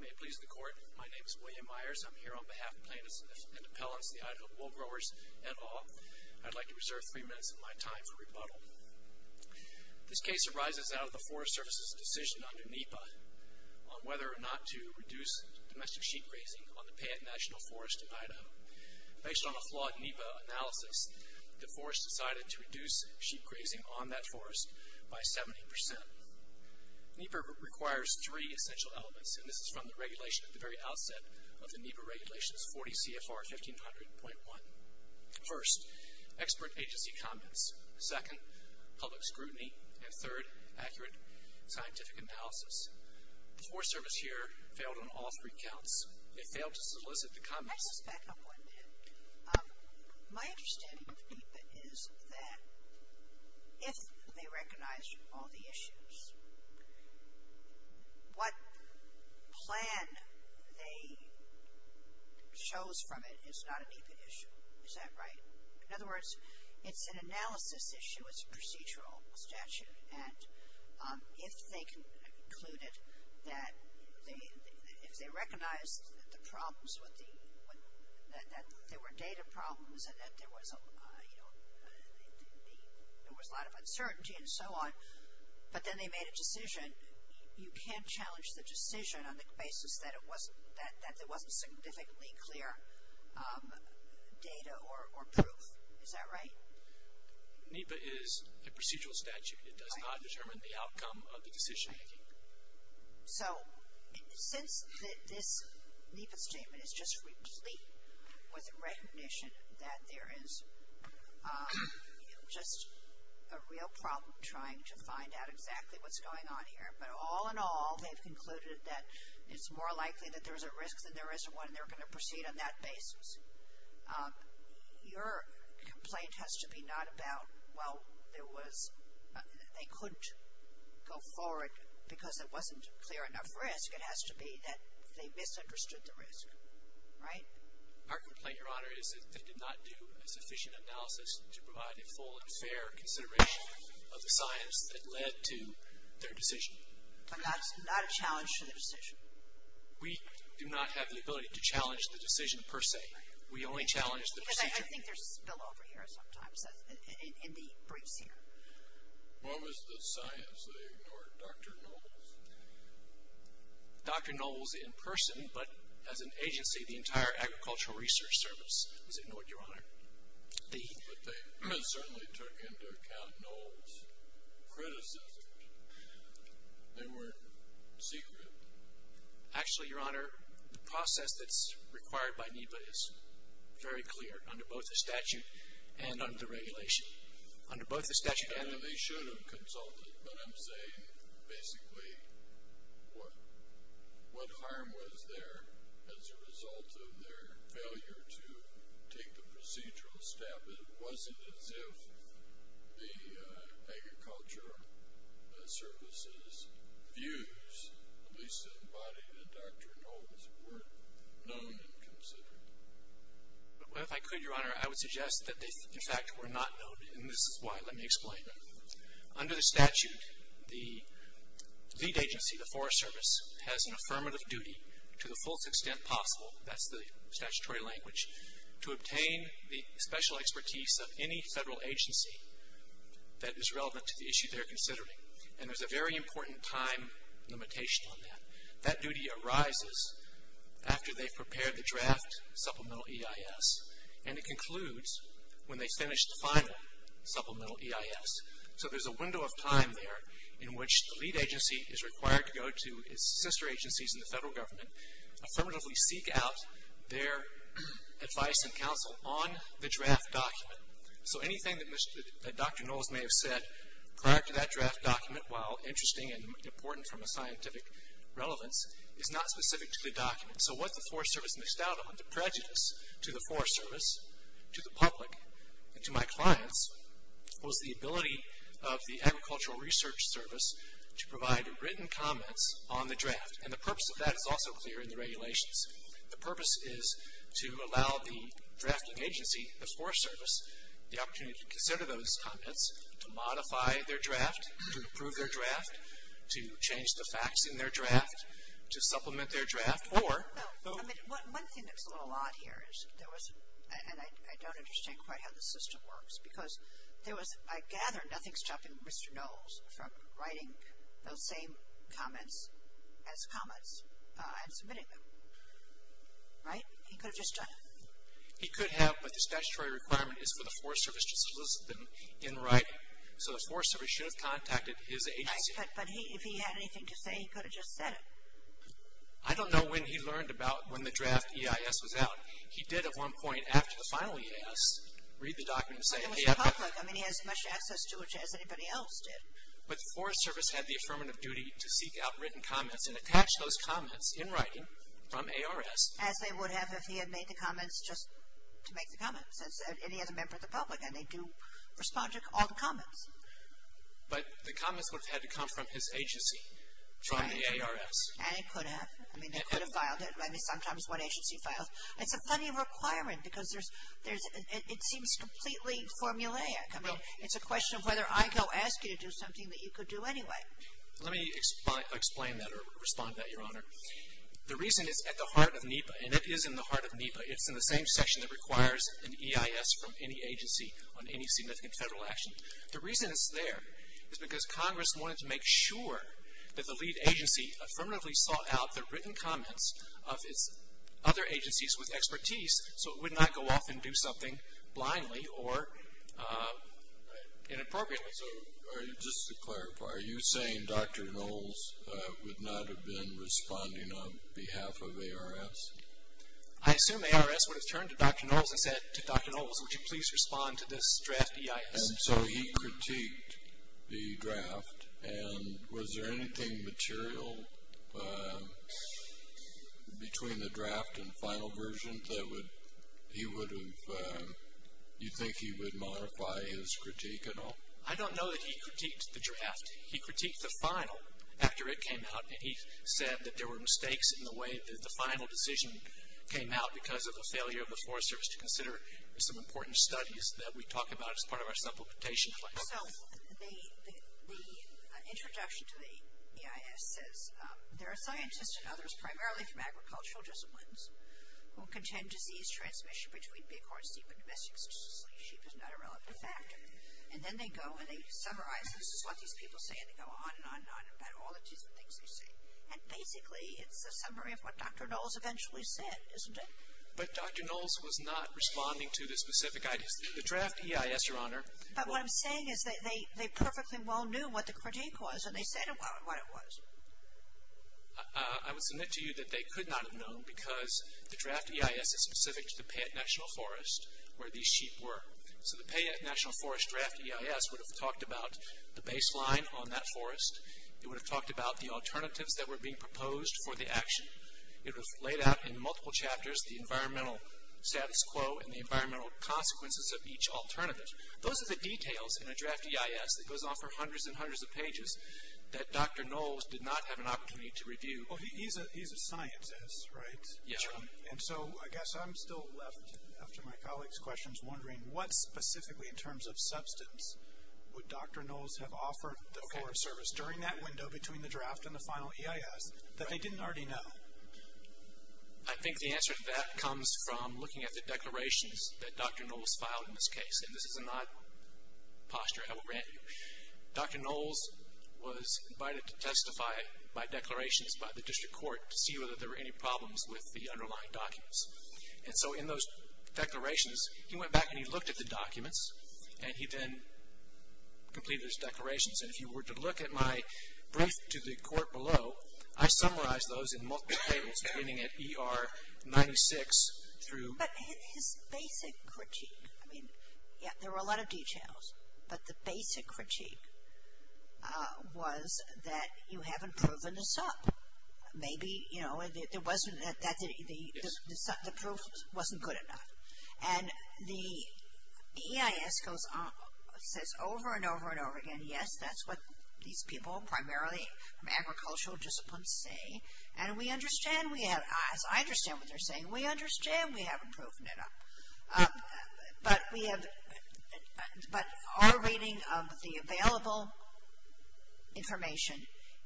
May it please the Court, my name is William Myers. I'm here on behalf of Plants and Appellants, the Idaho Wool Growers, et al. I'd like to reserve three minutes of my time for rebuttal. This case arises out of the Forest Service's decision under NEPA on whether or not to reduce domestic sheep grazing on the Payette National Forest in Idaho. Based on a flawed NEPA analysis, the Forest decided to reduce sheep grazing on that forest by 70%. NEPA requires three essential elements, and this is from the regulation at the very outset of the NEPA Regulations 40 CFR 1500.1. First, expert agency comments. Second, public scrutiny. And third, accurate scientific analysis. The Forest Service here failed on all three counts. It failed to solicit the comments. Can I just back up one bit? My understanding of NEPA is that if they recognized all the issues, what plan they chose from it is not a NEPA issue. Is that right? In other words, it's an analysis issue. It's a procedural statute. And if they concluded that if they recognized that there were data problems and that there was a lot of uncertainty and so on, but then they made a decision, you can't challenge the decision on the basis that there wasn't significantly clear data or proof. Is that right? NEPA is a procedural statute. It does not determine the outcome of the decision-making. So, since this NEPA statement is just replete with recognition that there is just a real problem trying to find out exactly what's going on here, but all in all, they've concluded that it's more likely that there's a risk than there isn't one, and they're going to proceed on that basis. Your complaint has to be not about, well, there was, they couldn't go forward because there wasn't clear enough risk. It has to be that they misunderstood the risk. Right? Our complaint, Your Honor, is that they did not do a sufficient analysis to provide a full and fair consideration of the science that led to their decision. But that's not a challenge to the decision. We do not have the ability to challenge the decision per se. We only challenge the decision. Because I think there's a spillover here sometimes in the briefs here. What was the science they ignored? Dr. Knowles? Dr. Knowles in person, but as an agency, the entire Agricultural Research Service has ignored, Your Honor. But they certainly took into account Knowles' criticism. They weren't secret. Actually, Your Honor, the process that's required by NEPA is very clear under both the statute and under the regulation. Under both the statute and the regulation. They should have consulted, but I'm saying, basically, what harm was there as a result of their failure to take the procedural step? It wasn't as if the Agricultural Service's views, at least embodied in Dr. Knowles, were known and considered. Well, if I could, Your Honor, I would suggest that they, in fact, were not known. And this is why, let me explain. Under the statute, the lead agency, the Forest Service, has an affirmative duty, to the fullest extent possible, that's the statutory language, to obtain the special expertise of any federal agency that is relevant to the issue they're considering. And there's a very important time limitation on that. That duty arises after they've prepared the draft Supplemental EIS. And it concludes when they finish the final Supplemental EIS. So there's a window of time there in which the lead agency is required to go to its sister agencies in the federal government, affirmatively seek out their advice and counsel on the draft document. So anything that Dr. Knowles may have said prior to that draft document, while interesting and important from a scientific relevance, is not specific to the document. So what the Forest Service missed out on, the prejudice to the Forest Service, to the public, and to my clients, was the ability of the Agricultural Research Service to provide written comments on the draft. And the purpose of that is also clear in the regulations. The purpose is to allow the drafting agency, the Forest Service, the opportunity to consider those comments, to modify their draft, to improve their draft, to change the facts in their draft, to supplement their draft, or. One thing that's a little odd here is, and I don't understand quite how the system works, because I gather nothing's stopping Mr. Knowles from writing those same comments as comments and submitting them. Right? He could have just done it. He could have, but the statutory requirement is for the Forest Service to solicit them in writing. So the Forest Service should have contacted his agency. But if he had anything to say, he could have just said it. I don't know when he learned about when the draft EIS was out. He did at one point, after the final EIS, read the document and say. But it was public. I mean he has as much access to it as anybody else did. But the Forest Service had the affirmative duty to seek out written comments and attach those comments in writing from ARS. As they would have if he had made the comments just to make the comments. And he has a member of the public and they do respond to all the comments. But the comments would have had to come from his agency, from the ARS. And it could have. I mean they could have filed it. I mean sometimes one agency files. It's a funny requirement because it seems completely formulaic. I mean it's a question of whether I go ask you to do something that you could do anyway. Let me explain that or respond to that, Your Honor. The reason is at the heart of NEPA, and it is in the heart of NEPA, it's in the same section that requires an EIS from any agency on any significant federal action. The reason it's there is because Congress wanted to make sure that the lead agency affirmatively sought out the written comments of its other agencies with expertise so it would not go off and do something blindly or inappropriately. So just to clarify, are you saying Dr. Knowles would not have been responding on behalf of ARS? I assume ARS would have turned to Dr. Knowles and said to Dr. Knowles, would you please respond to this draft EIS? And so he critiqued the draft, and was there anything material between the draft and the final version that he would have, you think he would modify his critique at all? I don't know that he critiqued the draft. He critiqued the final after it came out, and he said that there were mistakes in the way because of the failure of the Forest Service to consider some important studies that we talk about as part of our supplementation plan. So the introduction to the EIS says, there are scientists and others primarily from agricultural disciplines who contend disease transmission between bighorn sheep and domestic sheep is not a relevant factor. And then they go and they summarize, this is what these people say, and they go on and on and on about all the different things they say. And basically it's a summary of what Dr. Knowles eventually said, isn't it? But Dr. Knowles was not responding to the specific ideas. The draft EIS, Your Honor. But what I'm saying is they perfectly well knew what the critique was, and they said what it was. I would submit to you that they could not have known because the draft EIS is specific to the Payette National Forest where these sheep were. So the Payette National Forest draft EIS would have talked about the baseline on that forest. It would have talked about the alternatives that were being proposed for the action. It was laid out in multiple chapters, the environmental status quo and the environmental consequences of each alternative. Those are the details in a draft EIS that goes on for hundreds and hundreds of pages that Dr. Knowles did not have an opportunity to review. He's a scientist, right? Yes, Your Honor. And so I guess I'm still left, after my colleagues' questions, wondering what specifically in terms of substance would Dr. Knowles have offered the Forest Service during that window between the draft and the final EIS that they didn't already know? I think the answer to that comes from looking at the declarations that Dr. Knowles filed in this case. And this is an odd posture, I will grant you. Dr. Knowles was invited to testify by declarations by the District Court to see whether there were any problems with the underlying documents. And so in those declarations, he went back and he looked at the documents and he then completed his declarations. And if you were to look at my brief to the court below, I summarized those in multiple tables beginning at ER 96 through. But his basic critique, I mean, yeah, there were a lot of details, but the basic critique was that you haven't proven a sub. Maybe, you know, there wasn't, the proof wasn't good enough. And the EIS goes on, says over and over and over again, yes, that's what these people primarily from agricultural disciplines say. And we understand, we have, as I understand what they're saying, we understand we haven't proven it enough. But we have, but our reading of the available information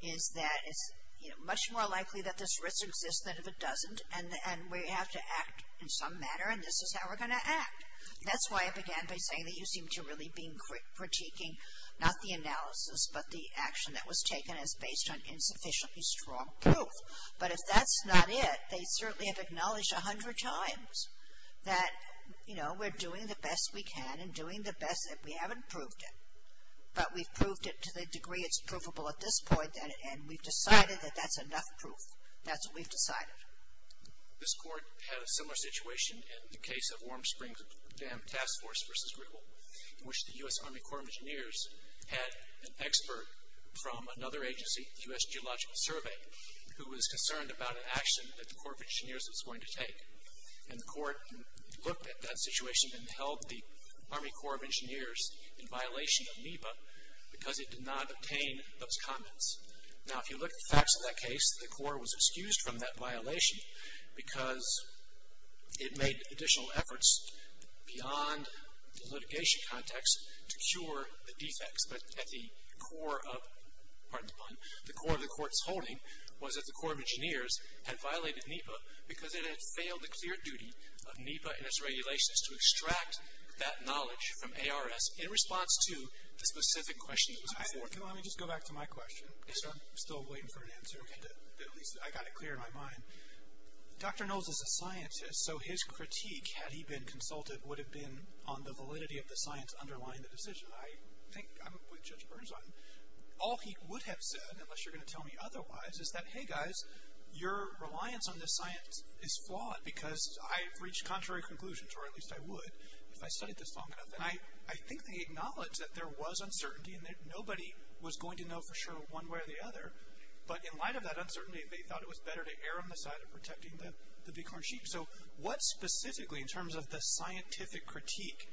is that it's, you know, much more likely that this risk exists than if it doesn't. And we have to act in some manner, and this is how we're going to act. That's why I began by saying that you seem to really be critiquing not the analysis, but the action that was taken as based on insufficiently strong proof. But if that's not it, they certainly have acknowledged 100 times that, you know, we're doing the best we can and doing the best that we haven't proved it. But we've proved it to the degree it's provable at this point, and we've decided that that's enough proof. That's what we've decided. This court had a similar situation in the case of Warm Springs Dam Task Force versus Greco, in which the U.S. Army Corps of Engineers had an expert from another agency, the U.S. Geological Survey, who was concerned about an action that the Corps of Engineers was going to take. And the court looked at that situation and held the Army Corps of Engineers in violation of NEPA because it did not obtain those comments. Now, if you look at the facts of that case, the court was excused from that violation because it made additional efforts beyond the litigation context to cure the defects. But at the core of the court's holding was that the Corps of Engineers had violated NEPA because it had failed the clear duty of NEPA and its regulations to extract that knowledge from ARS in response to the specific question that was before it. Let me just go back to my question. I'm still waiting for an answer. At least I got it clear in my mind. Dr. Knowles is a scientist, so his critique, had he been consulted, would have been on the validity of the science underlying the decision. I think I'm with Judge Burns on that. All he would have said, unless you're going to tell me otherwise, is that, hey, guys, your reliance on this science is flawed because I've reached contrary conclusions, or at least I would if I studied this long enough. And I think they acknowledged that there was uncertainty and that nobody was going to know for sure one way or the other. But in light of that uncertainty, they thought it was better to err on the side of protecting the bighorn sheep. So what specifically, in terms of the scientific critique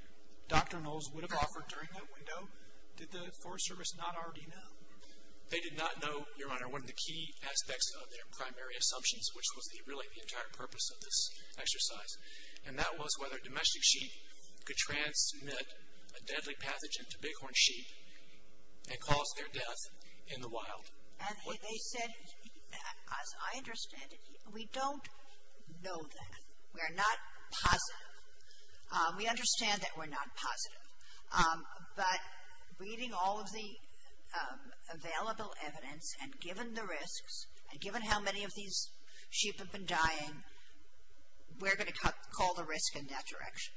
Dr. Knowles would have offered during that window, did the Forest Service not already know? They did not know, Your Honor, one of the key aspects of their primary assumptions, which was really the entire purpose of this exercise. And that was whether domestic sheep could transmit a deadly pathogen to bighorn sheep and cause their death in the wild. And they said, as I understand it, we don't know that. We are not positive. We understand that we're not positive. But reading all of the available evidence and given the risks and given how many of these sheep have been dying, we're going to call the risk in that direction.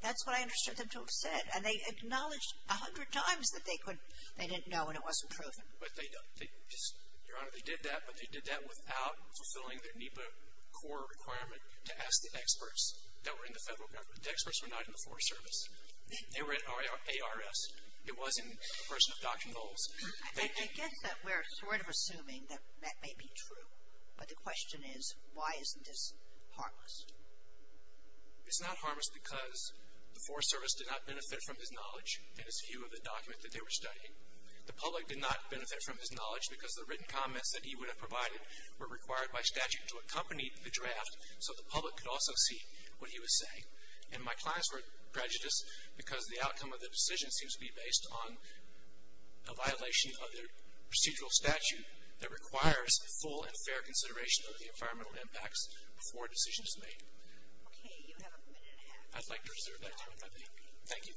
That's what I understood them to have said. And they acknowledged 100 times that they didn't know and it wasn't proven. But they, Your Honor, they did that, but they did that without fulfilling their NEPA core requirement to ask the experts that were in the federal government. The experts were not in the Forest Service. They were at ARS. It wasn't a person of Dr. Knowles. Thank you. I guess that we're sort of assuming that that may be true. But the question is, why isn't this harmless? It's not harmless because the Forest Service did not benefit from his knowledge and his view of the document that they were studying. The public did not benefit from his knowledge because the written comments that he would have provided were required by statute to accompany the draft so the public could also see what he was saying. And my clients were prejudiced because the outcome of the decision seems to be based on a violation of the procedural statute that requires full and fair consideration of the environmental impacts before a decision is made. Okay, you have a minute and a half. I'd like to reserve that time, I think. Thank you.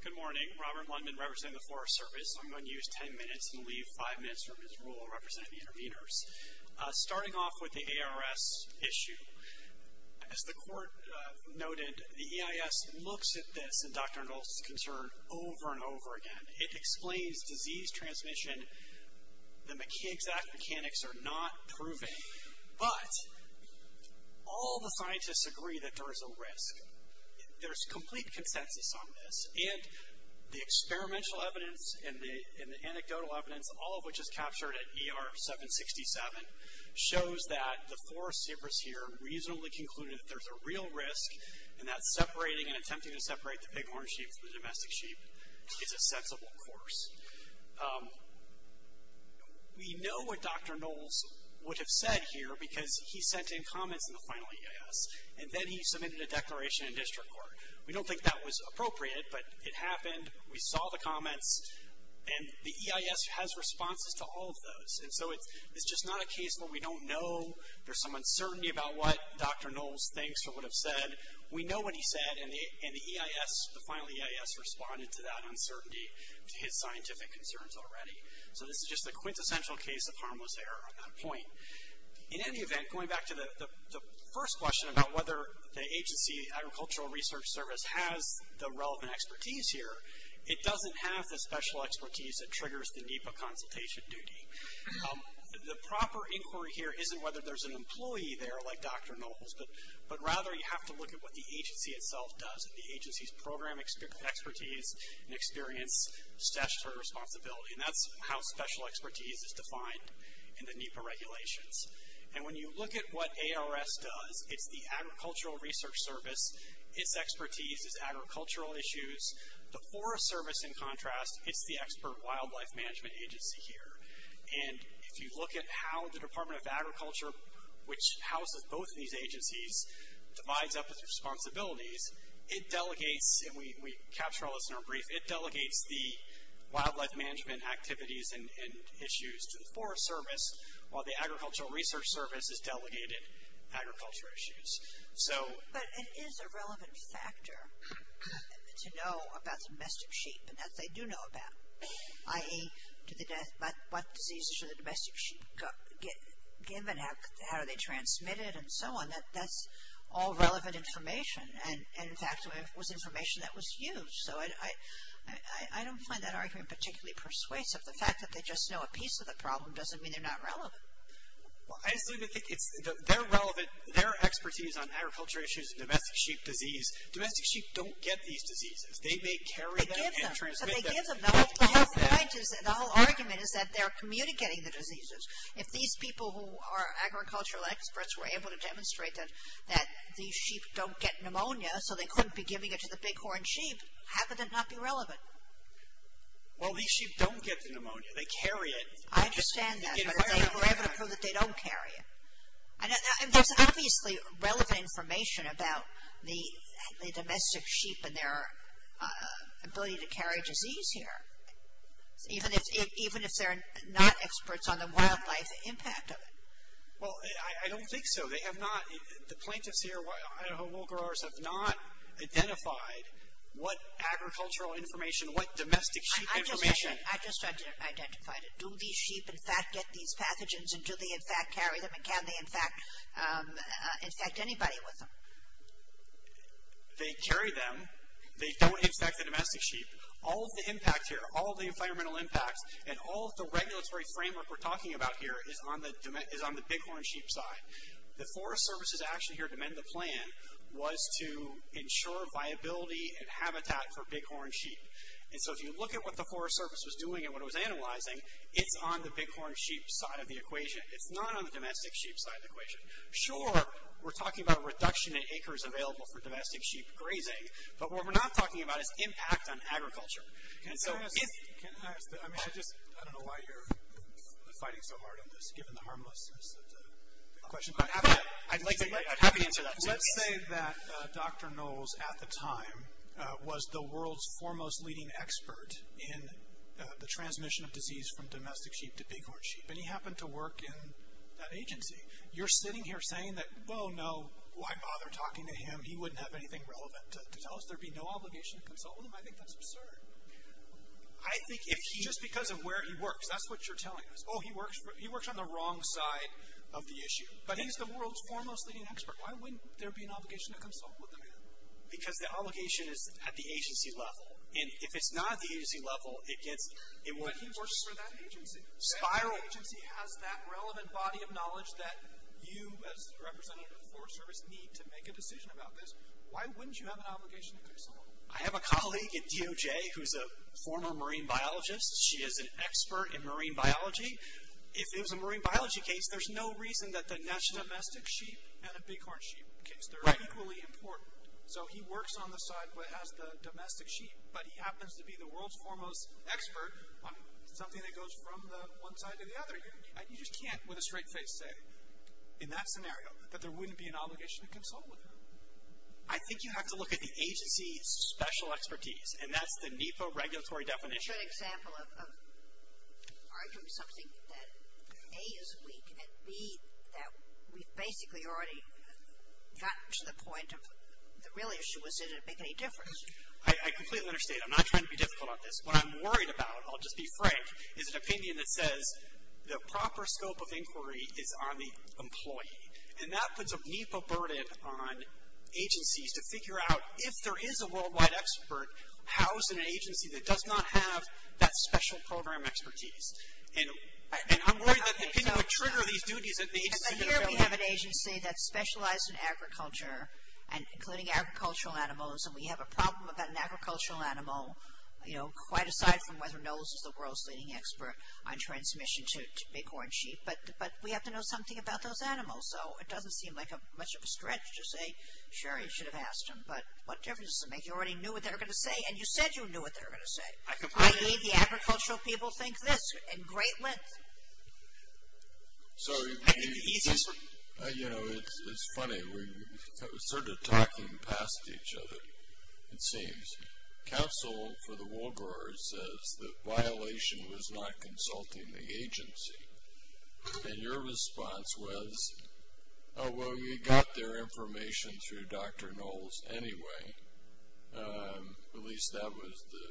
Good morning. Robert Lundman representing the Forest Service. I'm going to use ten minutes and leave five minutes for Ms. Rule representing the interveners. Starting off with the ARS issue, as the court noted, the EIS looks at this and Dr. Knowles' concern over and over again. It explains disease transmission. The exact mechanics are not proven. But all the scientists agree that there is a risk. There's complete consensus on this. And the experimental evidence and the anecdotal evidence, all of which is captured at ER 767, shows that the Forest Service here reasonably concluded that there's a real risk and that separating and attempting to separate the bighorn sheep from the domestic sheep is a sensible course. We know what Dr. Knowles would have said here because he sent in comments in the final EIS and then he submitted a declaration in district court. We don't think that was appropriate, but it happened. We saw the comments. And the EIS has responses to all of those. And so it's just not a case where we don't know. There's some uncertainty about what Dr. Knowles thinks or would have said. We know what he said, and the EIS, the final EIS, responded to that uncertainty to his scientific concerns already. So this is just a quintessential case of harmless error on that point. In any event, going back to the first question about whether the agency, Agricultural Research Service, has the relevant expertise here, it doesn't have the special expertise that triggers the NEPA consultation duty. The proper inquiry here isn't whether there's an employee there like Dr. Knowles, but rather you have to look at what the agency itself does, if the agency's program expertise and experience statutory responsibility. And that's how special expertise is defined in the NEPA regulations. And when you look at what ARS does, it's the Agricultural Research Service. Its expertise is agricultural issues. The Forest Service, in contrast, it's the expert wildlife management agency here. And if you look at how the Department of Agriculture, which houses both of these agencies, divides up its responsibilities, it delegates, and we capture all this in our brief, it delegates the wildlife management activities and issues to the Forest Service, while the Agricultural Research Service is delegated agriculture issues. So. But it is a relevant factor to know about domestic sheep, and that's what they do know about. I.e., what diseases should the domestic sheep get given, how are they transmitted, and so on. That's all relevant information. And, in fact, it was information that was used. So, I don't find that argument particularly persuasive. The fact that they just know a piece of the problem doesn't mean they're not relevant. Well, I just think it's their relevant, their expertise on agriculture issues and domestic sheep disease, domestic sheep don't get these diseases. They may carry them and transmit them. But they give them. The whole point is, the whole argument is that they're communicating the diseases. If these people who are agricultural experts were able to demonstrate that these sheep don't get pneumonia so they couldn't be giving it to the bighorn sheep, how could it not be relevant? Well, these sheep don't get the pneumonia. They carry it. I understand that. But if they were able to prove that they don't carry it. There's obviously relevant information about the domestic sheep and their ability to carry disease here. Even if they're not experts on the wildlife impact of it. Well, I don't think so. They have not, the plaintiffs here, Idaho wool growers, have not identified what agricultural information, what domestic sheep information. I just identified it. Do these sheep, in fact, get these pathogens? And do they, in fact, carry them? And can they, in fact, infect anybody with them? They carry them. They don't infect the domestic sheep. All of the impact here, all of the environmental impacts, and all of the regulatory framework we're talking about here is on the bighorn sheep side. The Forest Service is actually here to amend the plan, was to ensure viability and habitat for bighorn sheep. And so if you look at what the Forest Service was doing and what it was analyzing, it's on the bighorn sheep side of the equation. It's not on the domestic sheep side of the equation. Sure, we're talking about a reduction in acres available for domestic sheep grazing. But what we're not talking about is impact on agriculture. I don't know why you're fighting so hard on this, given the harmlessness of the question. I'd like to answer that. Let's say that Dr. Knowles at the time was the world's foremost leading expert in the transmission of disease from domestic sheep to bighorn sheep. And he happened to work in that agency. You're sitting here saying that, well, no, why bother talking to him? He wouldn't have anything relevant to tell us. There would be no obligation to consult with him. I think that's absurd. Just because of where he works, that's what you're telling us. Oh, he works on the wrong side of the issue. But he's the world's foremost leading expert. Why wouldn't there be an obligation to consult with the man? Because the obligation is at the agency level. And if it's not at the agency level, it gets in the way. But he works for that agency. If that agency has that relevant body of knowledge that you, as the representative of the Forest Service, need to make a decision about this, why wouldn't you have an obligation to consult with him? I have a colleague at DOJ who's a former marine biologist. She is an expert in marine biology. If it was a marine biology case, there's no reason that the domestic sheep and a bighorn sheep case. They're equally important. So he works on the side that has the domestic sheep. But he happens to be the world's foremost expert on something that goes from one side to the other. You just can't, with a straight face, say, in that scenario, that there wouldn't be an obligation to consult with him. I think you have to look at the agency's special expertise. And that's the NEPA regulatory definition. A good example of arguing something that, A, is weak, and, B, that we've basically already gotten to the point of the real issue is, does it make any difference? I completely understand. I'm not trying to be difficult on this. What I'm worried about, I'll just be frank, is an opinion that says the proper scope of inquiry is on the employee. And that puts a NEPA burden on agencies to figure out, if there is a worldwide expert, how is an agency that does not have that special program expertise? And I'm worried that the opinion would trigger these duties that the agency is going to build on. And here we have an agency that's specialized in agriculture, including agricultural animals. And we have a problem about an agricultural animal, you know, quite aside from whether or not this is the world's leading expert on transmission to bighorn sheep. But we have to know something about those animals. So it doesn't seem like much of a stretch to say, sure, you should have asked them, but what difference does it make? You already knew what they were going to say, and you said you knew what they were going to say. I completely agree. I.e., the agricultural people think this in great length. So, you know, it's funny. We're sort of talking past each other, it seems. Counsel for the wool growers says that violation was not consulting the agency. And your response was, oh, well, we got their information through Dr. Knowles anyway. At least that was the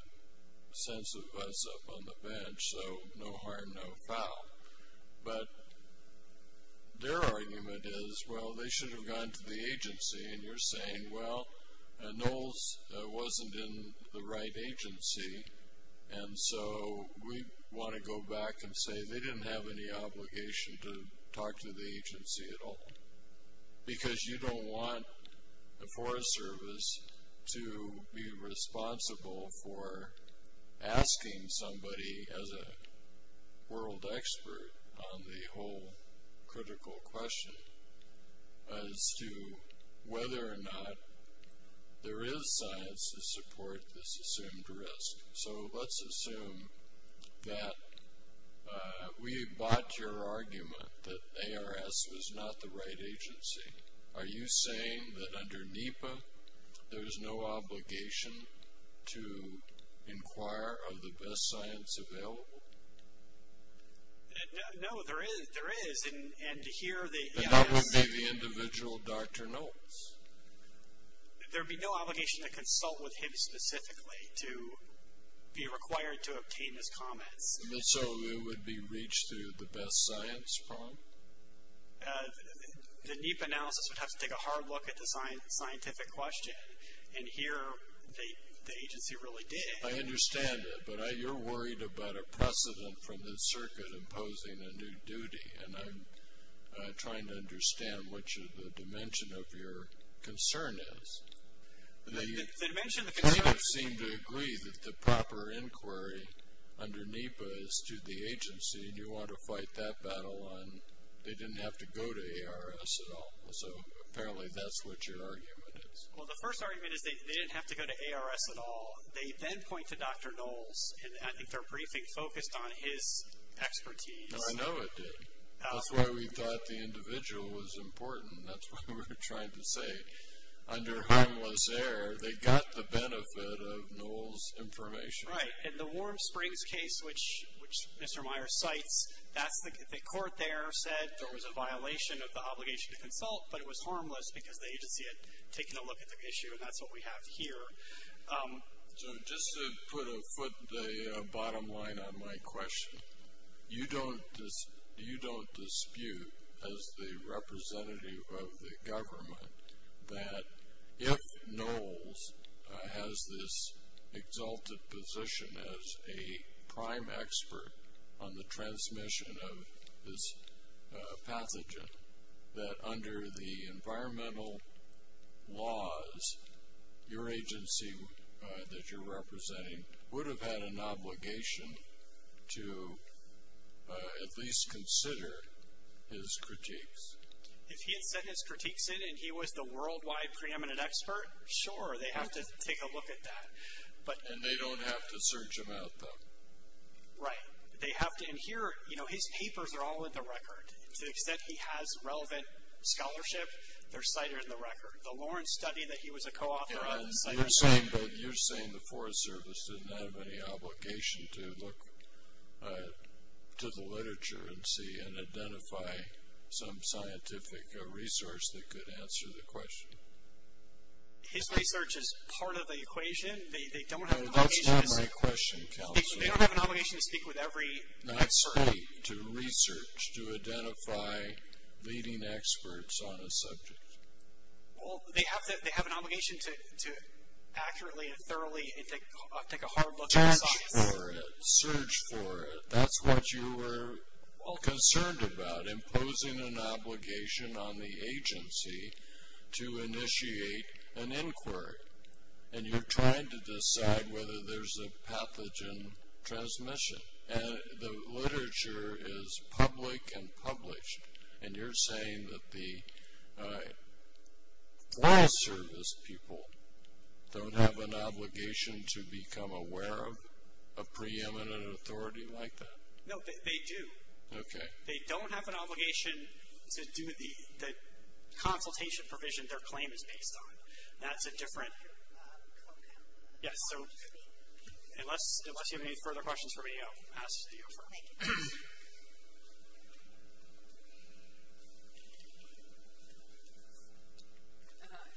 sense of us up on the bench, so no harm, no foul. But their argument is, well, they should have gone to the agency. And you're saying, well, Knowles wasn't in the right agency. And so we want to go back and say they didn't have any obligation to talk to the agency at all. Because you don't want the Forest Service to be responsible for asking somebody as a world expert on the whole critical question as to whether or not there is science to support this assumed risk. So let's assume that we bought your argument that ARS was not the right agency. Are you saying that under NEPA there is no obligation to inquire of the best science available? No, there is. There is. And here the agency. But that would be the individual Dr. Knowles. There would be no obligation to consult with him specifically to be required to obtain his comments. So it would be reached through the best science prompt? The NEPA analysis would have to take a hard look at the scientific question. And here the agency really did. I understand it. But you're worried about a precedent from the circuit imposing a new duty. And I'm trying to understand what the dimension of your concern is. They kind of seem to agree that the proper inquiry under NEPA is to the agency. And you want to fight that battle on they didn't have to go to ARS at all. So apparently that's what your argument is. Well, the first argument is they didn't have to go to ARS at all. They then point to Dr. Knowles. And I think their briefing focused on his expertise. No, I know it did. That's why we thought the individual was important. That's what we were trying to say. Under harmless error, they got the benefit of Knowles' information. Right. And the Warm Springs case, which Mr. Meyer cites, that's the court there said there was a violation of the obligation to consult, but it was harmless because the agency had taken a look at the issue. And that's what we have here. So just to put a bottom line on my question, you don't dispute as the representative of the government that if Knowles has this exalted position as a prime expert on the transmission of this pathogen, that under the environmental laws, your agency that you're representing would have had an obligation to at least consider his critiques. If he had sent his critiques in and he was the worldwide preeminent expert, sure, they have to take a look at that. And they don't have to search him out, though. Right. They have to adhere. You know, his papers are all in the record. To the extent he has relevant scholarship, they're cited in the record. The Lawrence study that he was a co-author of is cited in the record. You're saying the Forest Service didn't have any obligation to look to the literature and see and identify some scientific resource that could answer the question. His research is part of the equation. They don't have an obligation to speak with every expert. They don't have a right to research to identify leading experts on a subject. Well, they have an obligation to accurately and thoroughly take a hard look. Search for it. Search for it. That's what you were concerned about, imposing an obligation on the agency to initiate an inquiry. And you're trying to decide whether there's a pathogen transmission. And the literature is public and published. And you're saying that the Forest Service people don't have an obligation to become aware of a preeminent authority like that? No, they do. Okay. They don't have an obligation to do the consultation provision their claim is based on. That's a different. Yes. So unless you have any further questions for me, I'll pass to you.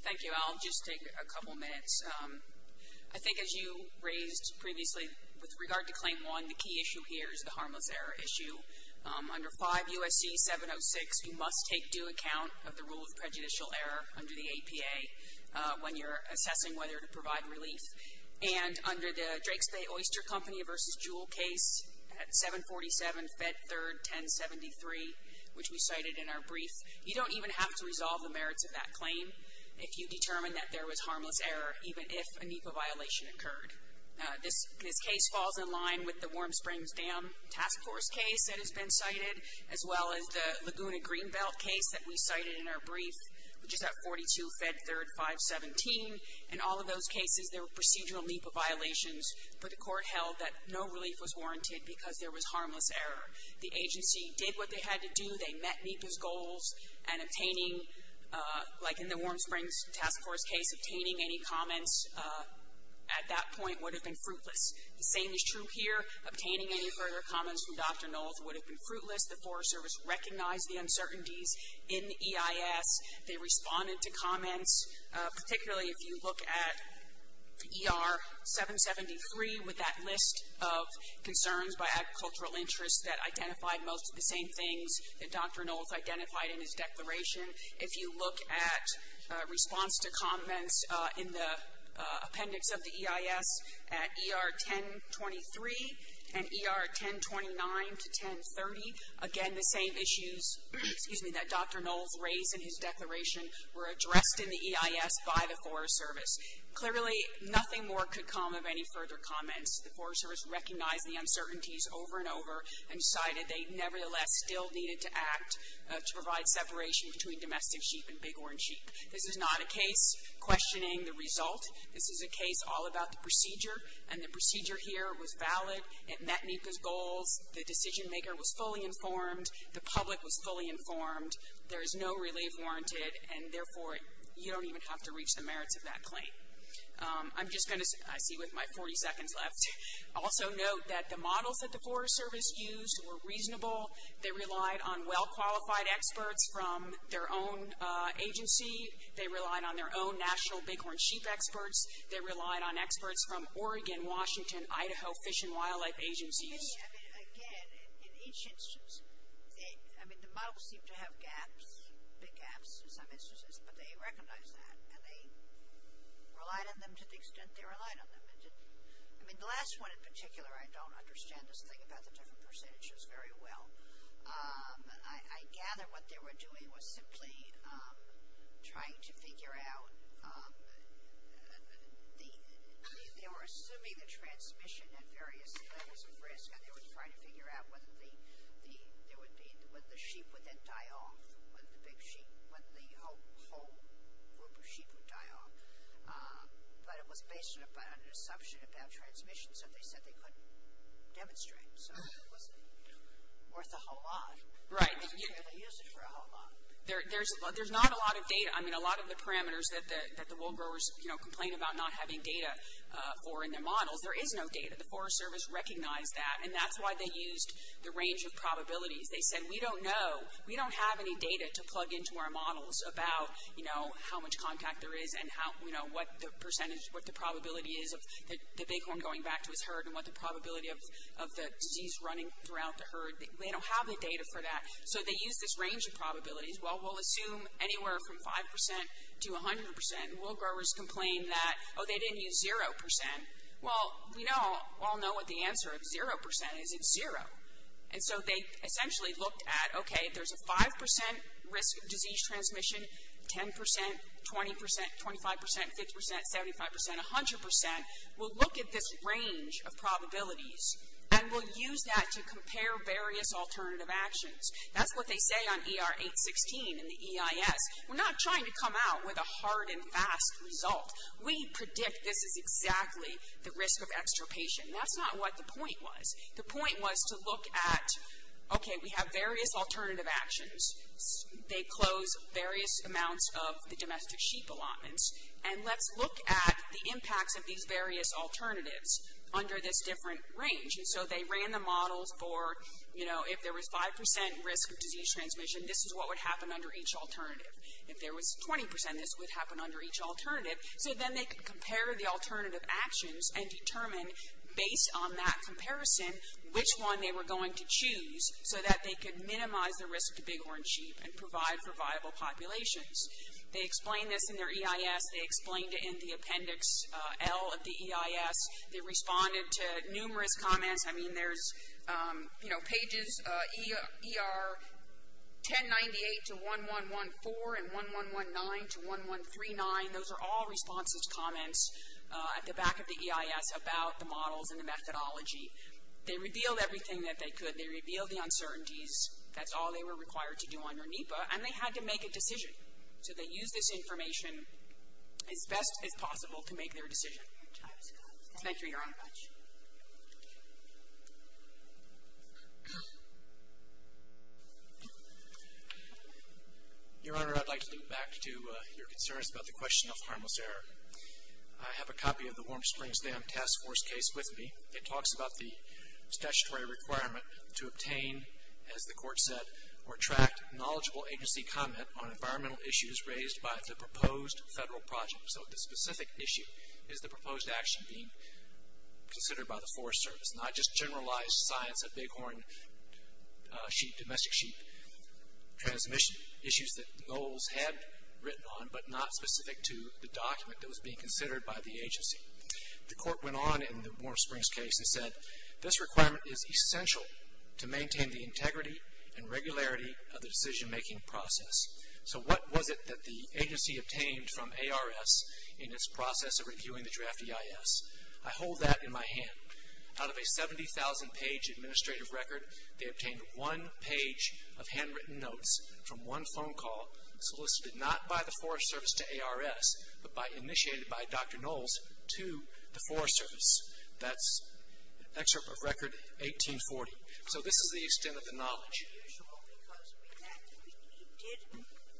Thank you. I'll just take a couple minutes. I think as you raised previously with regard to Claim 1, the key issue here is the harmless error issue. Under 5 U.S.C. 706, you must take due account of the rule of prejudicial error under the APA. When you're assessing whether to provide relief. And under the Drake's Bay Oyster Company v. Jewel case at 747 Fed 3rd 1073, which we cited in our brief, you don't even have to resolve the merits of that claim if you determine that there was harmless error, even if a NEPA violation occurred. This case falls in line with the Warm Springs Dam Task Force case that has been cited, as well as the Laguna Greenbelt case that we cited in our brief, which is at 42 Fed 3rd 517. In all of those cases, there were procedural NEPA violations, but the Court held that no relief was warranted because there was harmless error. The agency did what they had to do. They met NEPA's goals, and obtaining, like in the Warm Springs Task Force case, obtaining any comments at that point would have been fruitless. The same is true here. Obtaining any further comments from Dr. Knowles would have been fruitless. The Forest Service recognized the uncertainties in EIS. They responded to comments, particularly if you look at ER 773 with that list of concerns by agricultural interests that identified most of the same things that Dr. Knowles identified in his declaration. If you look at response to comments in the appendix of the EIS at ER 1023 and ER 1029 to 1030, again the same issues that Dr. Knowles raised in his declaration were addressed in the EIS by the Forest Service. Clearly, nothing more could come of any further comments. The Forest Service recognized the uncertainties over and over and decided they nevertheless still needed to act to provide separation between domestic sheep and big orange sheep. This is not a case questioning the result. This is a case all about the procedure, and the procedure here was valid. It met NEPA's goals. The decision maker was fully informed. The public was fully informed. There is no relief warranted, and therefore, you don't even have to reach the merits of that claim. I'm just going to, I see with my 40 seconds left, also note that the models that the Forest Service used were reasonable. They relied on well-qualified experts from their own agency. They relied on their own national big orange sheep experts. They relied on experts from Oregon, Washington, Idaho Fish and Wildlife agencies. I mean, again, in each instance, I mean, the models seem to have gaps, big gaps in some instances, but they recognized that, and they relied on them to the extent they relied on them. I mean, the last one in particular, I don't understand this thing about the different percentages very well. I gather what they were doing was simply trying to figure out, they were assuming the transmission at various levels of risk, and they were trying to figure out whether the sheep would then die off, whether the big sheep, whether the whole group of sheep would die off. But it was based on an assumption about transmission, so they said they couldn't demonstrate. So it wasn't worth a whole lot. They didn't really use it for a whole lot. There's not a lot of data. I mean, a lot of the parameters that the wool growers, you know, complain about not having data for in their models, there is no data. The Forest Service recognized that, and that's why they used the range of probabilities. They said, we don't know, we don't have any data to plug into our models about, you know, how much contact there is and how, you know, what the percentage, what the probability is of the bighorn going back to his herd and what the probability of the disease running throughout the herd. They don't have the data for that. So they used this range of probabilities. Well, we'll assume anywhere from 5% to 100%. Wool growers complained that, oh, they didn't use 0%. Well, we all know what the answer of 0% is. It's zero. And so they essentially looked at, okay, there's a 5% risk of disease transmission, 10%, 20%, 25%, 50%, 75%, 100%. We'll look at this range of probabilities, and we'll use that to compare various alternative actions. That's what they say on ER 816 in the EIS. We're not trying to come out with a hard and fast result. We predict this is exactly the risk of extirpation. That's not what the point was. The point was to look at, okay, we have various alternative actions. They close various amounts of the domestic sheep allotments, and let's look at the impacts of these various alternatives under this different range. And so they ran the models for, you know, if there was 5% risk of disease transmission, this is what would happen under each alternative. If there was 20%, this would happen under each alternative. So then they could compare the alternative actions and determine based on that comparison which one they were going to choose so that they could minimize the risk to big horn sheep and provide for viable populations. They explained this in their EIS. They explained it in the appendix L of the EIS. They responded to numerous comments. I mean, there's, you know, pages ER 1098 to 1114 and 1119 to 1139. Those are all responses, comments at the back of the EIS about the models and the methodology. They revealed everything that they could. They revealed the uncertainties. That's all they were required to do under NEPA, and they had to make a decision. So they used this information as best as possible to make their decision. Thank you, Your Honor. Your Honor, I'd like to loop back to your concerns about the question of harmless error. I have a copy of the Warm Springs Dam Task Force case with me. It talks about the statutory requirement to obtain, as the court said, or attract knowledgeable agency comment on environmental issues raised by the proposed federal project. So the specific issue is the proposed action being considered by the Forest Service, not just generalized science of big horn sheep, domestic sheep, transmission issues that Goals had written on, but not specific to the document that was being considered by the agency. The court went on in the Warm Springs case and said, this requirement is essential to maintain the integrity and regularity of the decision-making process. So what was it that the agency obtained from ARS in its process of reviewing the draft EIS? I hold that in my hand. Out of a 70,000-page administrative record, they obtained one page of handwritten notes from one phone call solicited not by the Forest Service to ARS, but initiated by Dr. Knowles to the Forest Service. That's an excerpt of record 1840. So this is the extent of the knowledge. Because he did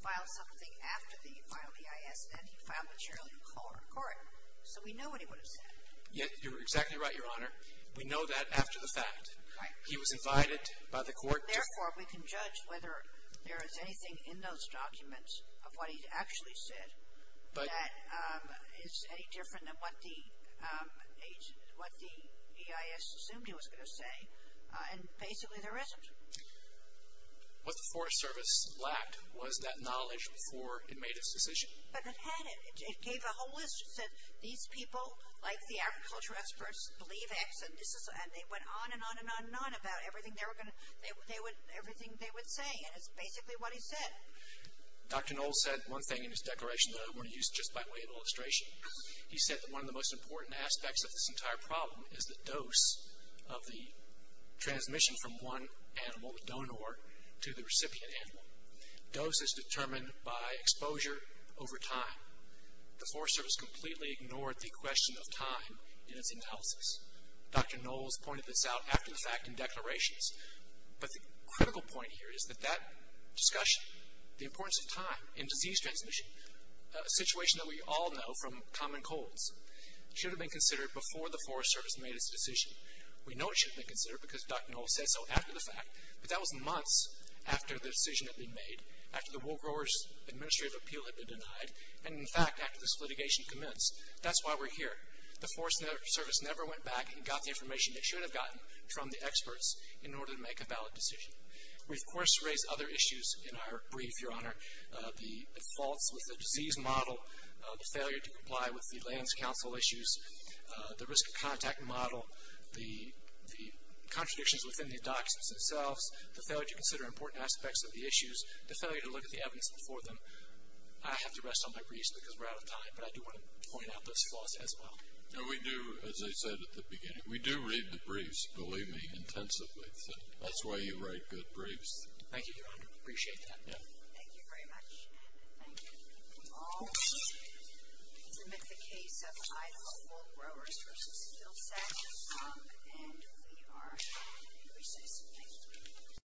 file something after he filed the EIS, and he filed material in court. Correct. So we know what he would have said. You're exactly right, Your Honor. We know that after the fact. Right. He was invited by the court to. Therefore, we can judge whether there is anything in those documents of what he actually said. But. That is any different than what the EIS assumed he was going to say. And basically, there isn't. What the Forest Service lacked was that knowledge before it made its decision. But it had it. It gave a whole list. It said, these people, like the agriculture experts, believe X. And they went on and on and on and on about everything they would say. And it's basically what he said. Dr. Knowles said one thing in his declaration that I want to use just by way of illustration. He said that one of the most important aspects of this entire problem is the dose of the transmission from one animal, the donor, to the recipient animal. Dose is determined by exposure over time. The Forest Service completely ignored the question of time in its analysis. Dr. Knowles pointed this out after the fact in declarations. But the critical point here is that that discussion, the importance of time in disease transmission, a situation that we all know from common colds, should have been considered before the Forest Service made its decision. We know it should have been considered because Dr. Knowles said so after the fact. But that was months after the decision had been made, after the Wool Growers Administrative Appeal had been denied, and, in fact, after this litigation commenced. That's why we're here. The Forest Service never went back and got the information it should have gotten from the experts in order to make a valid decision. We, of course, raise other issues in our brief, Your Honor. The faults with the disease model, the failure to comply with the lands council issues, the risk of contact model, the contradictions within the documents themselves, the failure to consider important aspects of the issues, the failure to look at the evidence before them. I have to rest on my breeze because we're out of time. But I do want to point out those flaws as well. No, we do, as I said at the beginning, we do read the briefs, believe me, intensively. So that's why you write good briefs. Thank you, Your Honor. Appreciate that. Thank you very much. Thank you. We will now submit the case of Item of Wool Growers v. Hillside. And we are adjourned. Thank you.